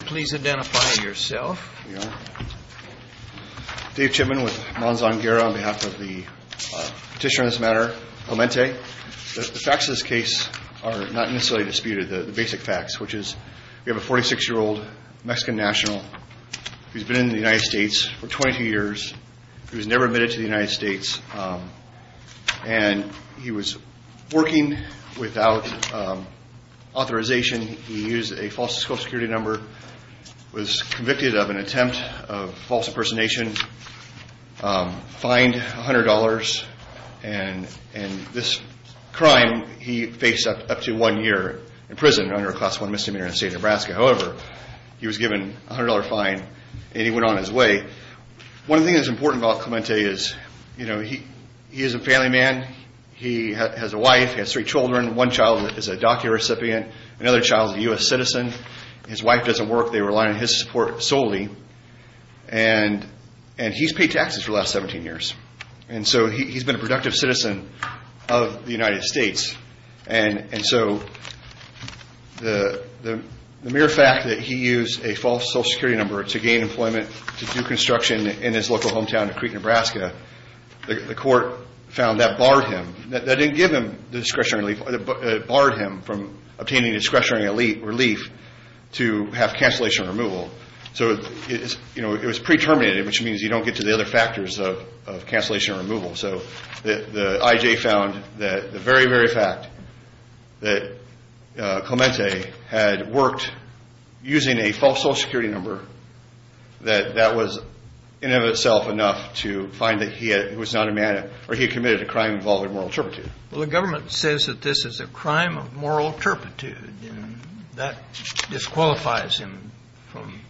Please identify yourself. Dave Chipman with Manzan Guerra on behalf of the petitioner on this matter, Clemente. The facts of this case are not necessarily disputed, the basic facts, which is we have a 46-year-old Mexican national who's been in the United States for 22 years, who was never admitted to the United States, and he was working without authorization, he used a false social security number, was convicted of an attempt of false impersonation, fined $100, and this crime he faced up to one year in prison under a Class I misdemeanor in the state of Nebraska. However, he was given a $100 fine, and he went on his way. One thing that's important about Clemente is he is a family man, he has a wife, he has three children, one child is a DACA recipient, another child is a U.S. citizen, his wife doesn't work, they rely on his support solely, and he's paid taxes for the last 17 years, and so he's been a productive citizen of the United States. And so the mere fact that he used a false social security number to gain employment, to do construction in his local hometown of Creek, Nebraska, the court found that barred him, that didn't give him discretionary relief, it barred him from obtaining discretionary relief to have cancellation removal. So it was pre-terminated, which means you don't get to the other factors of cancellation removal. So the I.J. found that the very, very fact that Clemente had worked using a false social security number, that that was in and of itself enough to find that he was not a man, or he committed a crime involving moral turpitude. Well, the government says that this is a crime of moral turpitude, and that disqualifies him from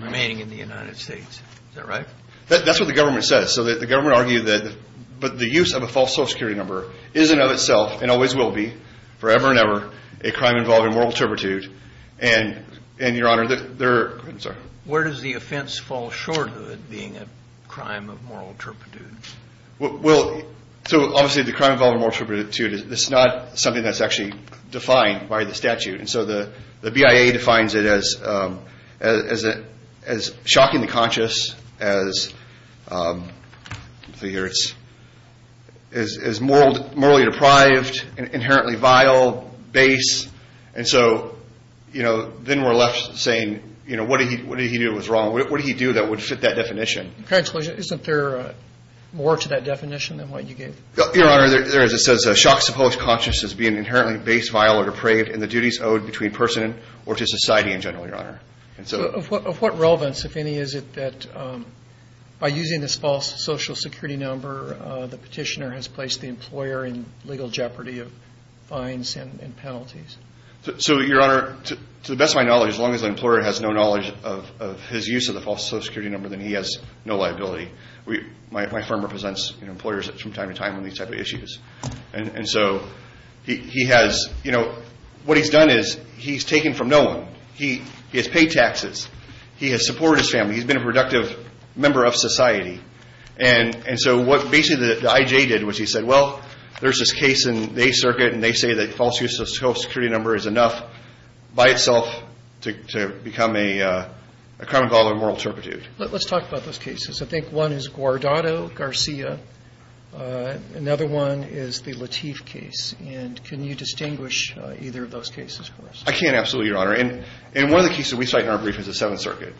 remaining in the United States, is that right? That's what the government says. So the government argued that the use of a false social security number is in and of itself and always will be forever and ever a crime involving moral turpitude. And, Your Honor, there are – I'm sorry. Where does the offense fall short of it being a crime of moral turpitude? Well, so obviously the crime involving moral turpitude, it's not something that's actually defined by the statute. And so the BIA defines it as shockingly conscious, as morally deprived, inherently vile, base. And so, you know, then we're left saying, you know, what did he do that was wrong? What did he do that would fit that definition? Isn't there more to that definition than what you gave? Your Honor, there is. It says shock supposed conscious as being inherently base, vile, or depraved in the duties owed between person or to society in general, Your Honor. Of what relevance, if any, is it that by using this false social security number, the petitioner has placed the employer in legal jeopardy of fines and penalties? So, Your Honor, to the best of my knowledge, as long as the employer has no knowledge of his use of the false social security number, then he has no liability. My firm represents employers from time to time on these type of issues. And so he has, you know, what he's done is he's taken from no one. He has paid taxes. He has supported his family. He's been a productive member of society. And so what basically the IJ did was he said, well, there's this case in the Eighth Circuit, and they say that false use of social security number is enough by itself to become a crime involving moral turpitude. Let's talk about those cases. I think one is Guardado-Garcia. Another one is the Lateef case. And can you distinguish either of those cases for us? I can, absolutely, Your Honor. And one of the cases we cite in our brief is the Seventh Circuit,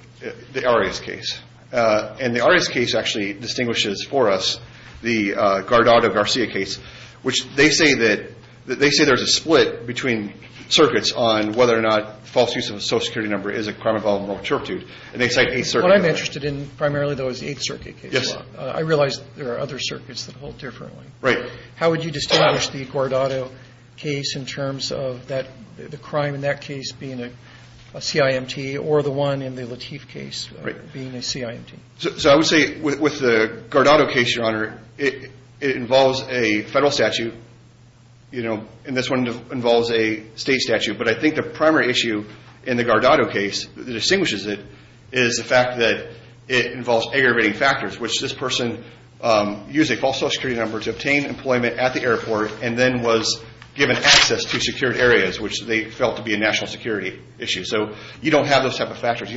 the Arias case. And the Arias case actually distinguishes for us the Guardado-Garcia case, which they say that there's a split between circuits on whether or not false use of a social security number is a crime involving moral turpitude. And they cite Eighth Circuit. What I'm interested in primarily, though, is the Eighth Circuit case. Yes. I realize there are other circuits that hold differently. Right. How would you distinguish the Guardado case in terms of the crime in that case being a CIMT or the one in the Lateef case being a CIMT? So I would say with the Guardado case, Your Honor, it involves a federal statute, you know, and this one involves a state statute. But I think the primary issue in the Guardado case that distinguishes it is the fact that it involves aggravating factors, which this person used a false social security number to obtain employment at the airport and then was given access to secured areas, which they felt to be a national security issue. So you don't have those type of factors.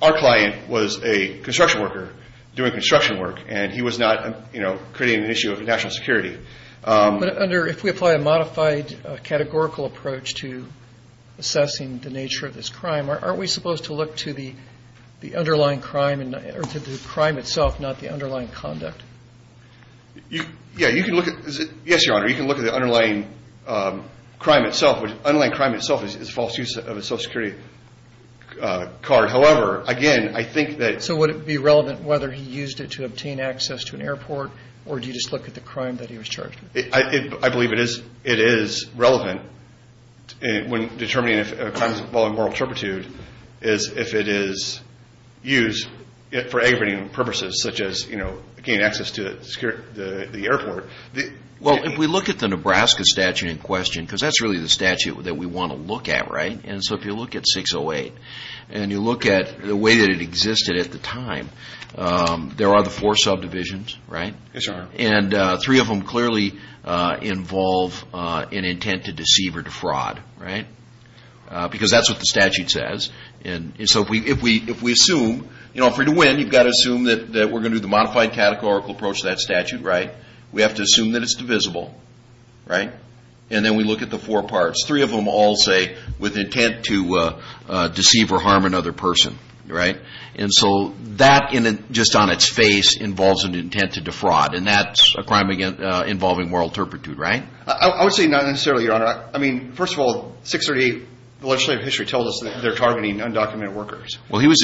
Our client was a construction worker doing construction work, and he was not, you know, creating an issue of national security. But under if we apply a modified categorical approach to assessing the nature of this crime, aren't we supposed to look to the underlying crime or to the crime itself, not the underlying conduct? Yeah. You can look at it. Yes, Your Honor. You can look at the underlying crime itself. The underlying crime itself is false use of a social security card. However, again, I think that So would it be relevant whether he used it to obtain access to an airport or do you just look at the crime that he was charged with? I believe it is relevant when determining if a crime involving moral turpitude is if it is used for aggravating purposes such as, you know, gain access to the airport. Well, if we look at the Nebraska statute in question, because that's really the statute that we want to look at, right? And so if you look at 608 and you look at the way that it existed at the time, there are the four subdivisions, right? Yes, Your Honor. And three of them clearly involve an intent to deceive or defraud, right? Because that's what the statute says. And so if we assume, you know, if we're to win, you've got to assume that we're going to do the modified categorical approach to that statute, right? We have to assume that it's divisible, right? And then we look at the four parts. Three of them all say with intent to deceive or harm another person, right? And so that just on its face involves an intent to defraud, and that's a crime involving moral turpitude, right? I would say not necessarily, Your Honor. I mean, first of all, 638, the legislative history tells us they're targeting undocumented workers. Well, he was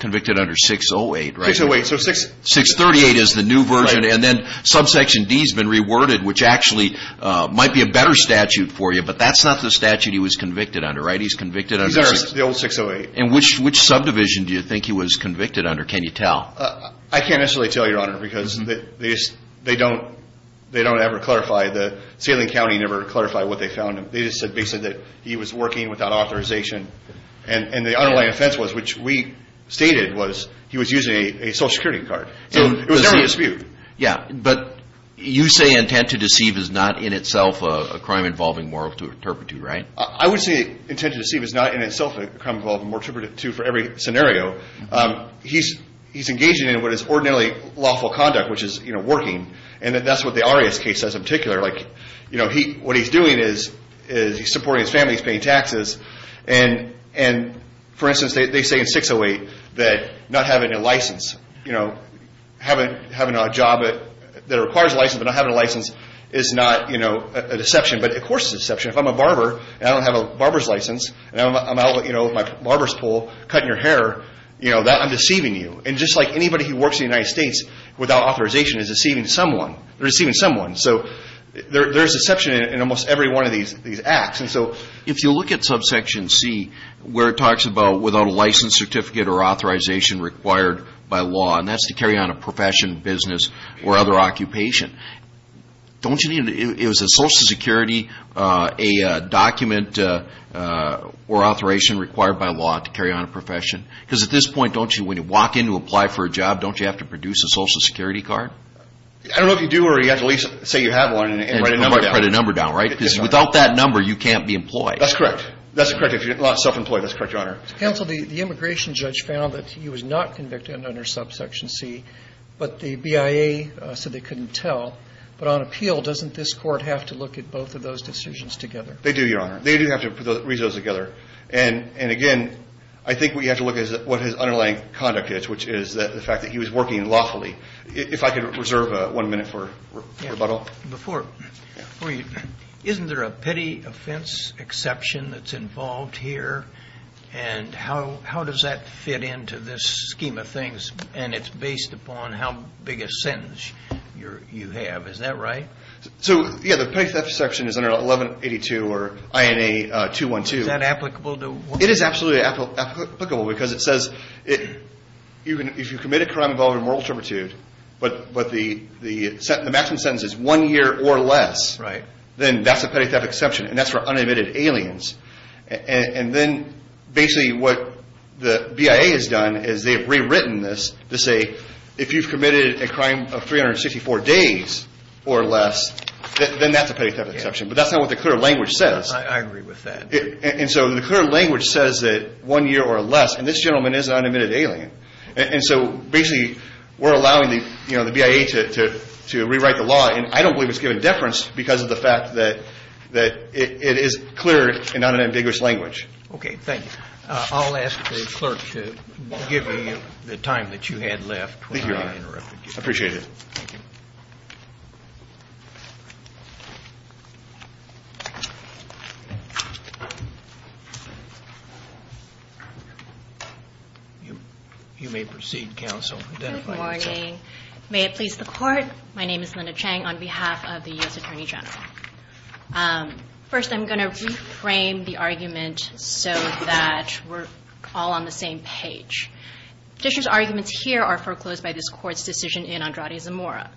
convicted under 608, right? 608. So 638 is the new version, and then subsection D has been reworded, which actually might be a better statute for you, but that's not the statute he was convicted under, right? He's convicted under 608. The old 608. And which subdivision do you think he was convicted under? Can you tell? I can't necessarily tell, Your Honor, because they don't ever clarify. Salem County never clarified what they found. They just said basically that he was working without authorization, and the underlying offense was, which we stated, was he was using a Social Security card. So it was never a dispute. Yeah, but you say intent to deceive is not in itself a crime involving moral turpitude, right? I would say intent to deceive is not in itself a crime involving moral turpitude for every scenario. He's engaging in what is ordinarily lawful conduct, which is, you know, working, and that's what the Arias case says in particular. Like, you know, what he's doing is he's supporting his family. He's paying taxes. And, for instance, they say in 608 that not having a license, you know, having a job that requires a license but not having a license is not, you know, a deception. But of course it's a deception. If I'm a barber and I don't have a barber's license and I'm out, you know, with my barber's pole cutting your hair, you know, I'm deceiving you. And just like anybody who works in the United States without authorization is deceiving someone. They're deceiving someone. So there's deception in almost every one of these acts. And so if you look at subsection C where it talks about without a license, certificate, or authorization required by law, and that's to carry on a profession, business, or other occupation, don't you need a social security document or authorization required by law to carry on a profession? Because at this point, don't you, when you walk in to apply for a job, don't you have to produce a social security card? I don't know if you do or you have to at least say you have one and write a number down. And write a number down, right? Because without that number you can't be employed. That's correct. That's correct. If you're not self-employed, that's correct, Your Honor. Counsel, the immigration judge found that he was not convicted under subsection C, but the BIA said they couldn't tell. But on appeal, doesn't this court have to look at both of those decisions together? They do, Your Honor. They do have to read those together. And again, I think we have to look at what his underlying conduct is, which is the fact that he was working lawfully. If I could reserve one minute for rebuttal. Before you, isn't there a petty offense exception that's involved here? And how does that fit into this scheme of things? And it's based upon how big a sentence you have. Is that right? So, yeah, the petty theft exception is under 1182 or INA 212. Is that applicable? It is absolutely applicable because it says if you commit a crime involved in moral turpitude, but the maximum sentence is one year or less, then that's a petty theft exception. And that's for unadmitted aliens. And then basically what the BIA has done is they've rewritten this to say, if you've committed a crime of 364 days or less, then that's a petty theft exception. But that's not what the clear language says. I agree with that. And so the clear language says that one year or less. And this gentleman is an unadmitted alien. And I don't believe it's given deference because of the fact that it is clear and not an ambiguous language. Okay, thanks. I'll ask the clerk to give me the time that you had left. Thank you, Your Honor. I appreciate it. Thank you. You may proceed, counsel. Good morning. May it please the Court? My name is Linda Chang on behalf of the U.S. Attorney General. First, I'm going to reframe the argument so that we're all on the same page. Dish's arguments here are foreclosed by this Court's decision in Andrade Zamora.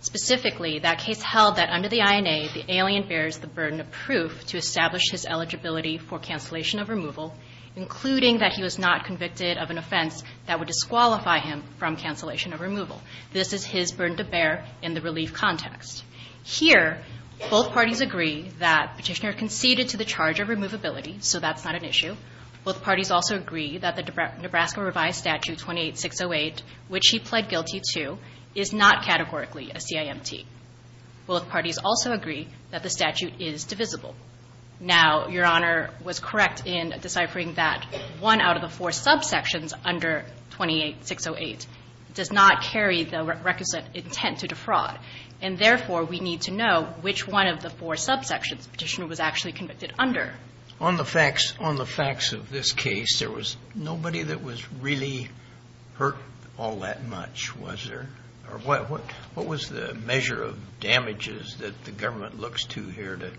Specifically, that case held that under the INA, the alien bears the burden of proof to establish his eligibility for cancellation of removal, including that he was not convicted of an offense that would disqualify him from cancellation of removal. This is his burden to bear in the relief context. Here, both parties agree that Petitioner conceded to the charge of removability, so that's not an issue. Both parties also agree that the Nebraska Revised Statute 28608, which he pled guilty to, is not categorically a CIMT. Both parties also agree that the statute is divisible. Now, Your Honor was correct in deciphering that one out of the four subsections under 28608 does not carry the requisite intent to defraud. And therefore, we need to know which one of the four subsections Petitioner was actually convicted under. On the facts of this case, there was nobody that was really hurt all that much, was there? Or what was the measure of damages that the government looks to here to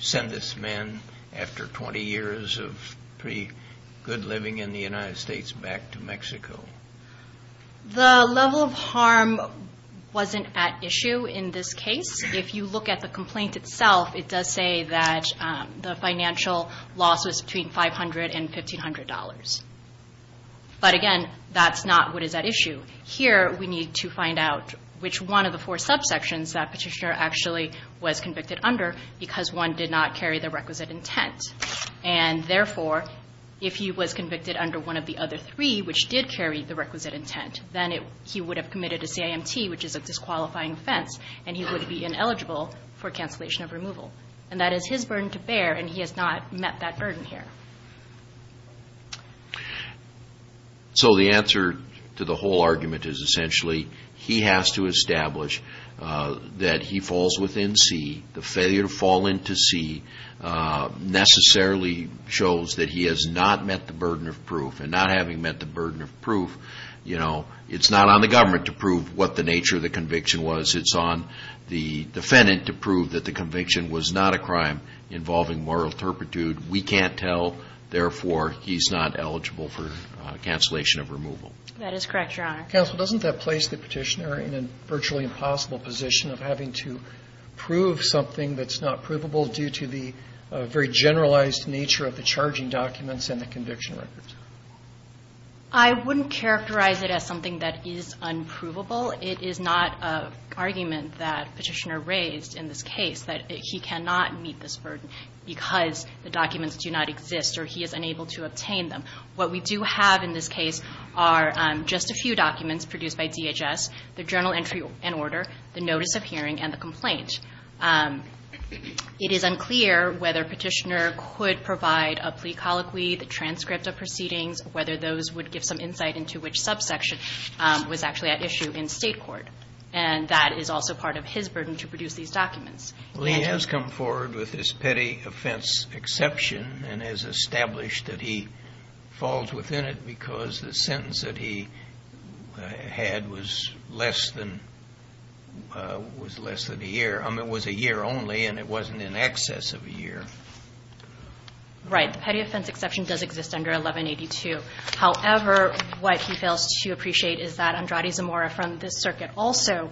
send this man, after 20 years of pretty good living in the United States, back to Mexico? The level of harm wasn't at issue in this case. If you look at the complaint itself, it does say that the financial loss was between $500 and $1,500. But again, that's not what is at issue. Here, we need to find out which one of the four subsections that Petitioner actually was convicted under because one did not carry the requisite intent. And therefore, if he was convicted under one of the other three, which did carry the requisite intent, then he would have committed a CIMT, which is a disqualifying offense, and he would be ineligible for cancellation of removal. And that is his burden to bear, and he has not met that burden here. So the answer to the whole argument is essentially he has to establish that he falls within C. The failure to fall into C necessarily shows that he has not met the burden of proof. And not having met the burden of proof, you know, it's not on the government to prove what the nature of the conviction was. It's on the defendant to prove that the conviction was not a crime involving moral turpitude. We can't tell. Therefore, he's not eligible for cancellation of removal. That is correct, Your Honor. Counsel, doesn't that place the Petitioner in a virtually impossible position of having to prove something that's not provable due to the very generalized nature of the charging documents and the conviction records? I wouldn't characterize it as something that is unprovable. It is not an argument that Petitioner raised in this case that he cannot meet this burden because the documents do not exist or he is unable to obtain them. What we do have in this case are just a few documents produced by DHS, the journal entry and order, the notice of hearing, and the complaint. It is unclear whether Petitioner could provide a plea colloquy, the transcript of proceedings, whether those would give some insight into which subsection was actually at issue in State court. And that is also part of his burden to produce these documents. Well, he has come forward with this petty offense exception and has established that he falls within it because the sentence that he had was less than a year. I mean, it was a year only, and it wasn't in excess of a year. Right. The petty offense exception does exist under 1182. However, what he fails to appreciate is that Andrade Zamora from this circuit also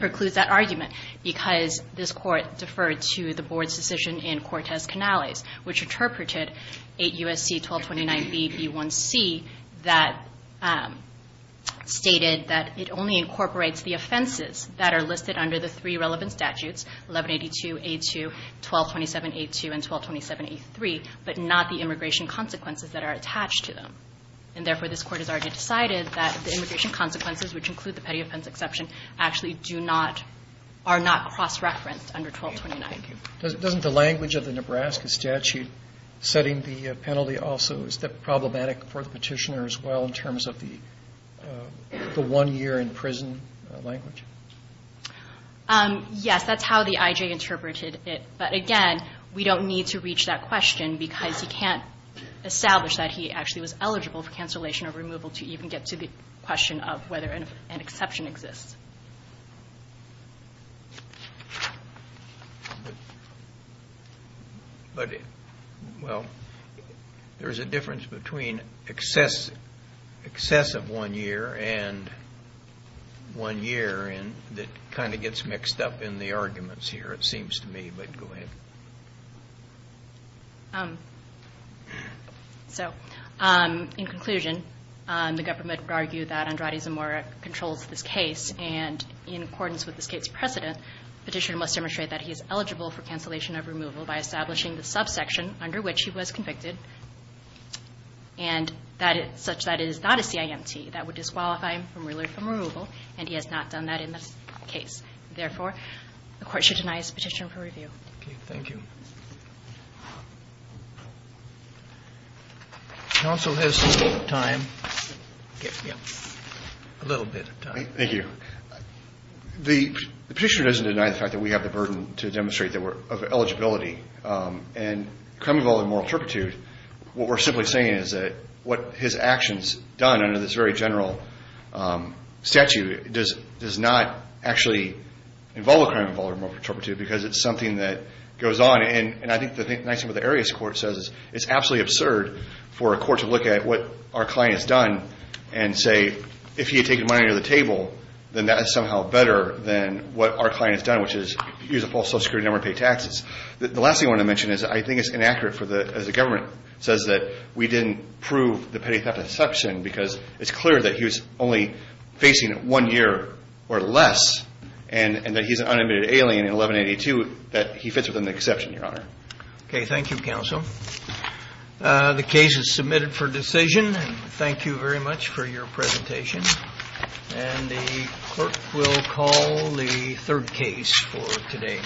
precludes that argument because this Court deferred to the Board's decision in Cortez-Canales, which interpreted 8 U.S.C. 1229B, B1C, that stated that it only incorporates the offenses that are listed under the three relevant statutes, 1182, A2, 1227A2, and 1227A3, but not the immigration consequences that are attached to them. And therefore, this Court has already decided that the immigration consequences, which include the petty offense exception, actually do not, are not cross-referenced under 1229. Doesn't the language of the Nebraska statute setting the penalty also, is that problematic for the Petitioner as well in terms of the one year in prison language? Yes. That's how the I.J. interpreted it. But again, we don't need to reach that question because he can't establish that he actually was eligible for cancellation or removal to even get to the question of whether an exception exists. But, well, there's a difference between excess of one year and one year that kind of gets mixed up in the arguments here, it seems to me. But go ahead. So, in conclusion, the government would argue that Andrade Zamora controls this case, and in accordance with this case precedent, Petitioner must demonstrate that he is eligible for cancellation of removal by establishing the subsection under which he was convicted, such that it is not a CIMT. That would disqualify him from removal, and he has not done that in this case. Therefore, the Court should deny his petition for review. Thank you. Counsel has some time. A little bit of time. Thank you. The Petitioner doesn't deny the fact that we have the burden to demonstrate that we're of eligibility. And crime involving moral turpitude, what we're simply saying is that what his actions done under this very general statute does not actually involve a crime involving moral turpitude, because it's something that goes on. And I think the nice thing about the Arias Court says is it's absolutely absurd for a court to look at what our client has done and say, if he had taken money under the table, then that is somehow better than what our client has done, which is use a false social security number and pay taxes. The last thing I want to mention is I think it's inaccurate as the government says that we didn't prove the petty theft exception because it's clear that he is only facing one year or less, and that he's an unadmitted alien in 1182, that he fits within the exception, Your Honor. Okay. Thank you, Counsel. The case is submitted for decision. Thank you very much for your presentation. And the clerk will call the third case for today.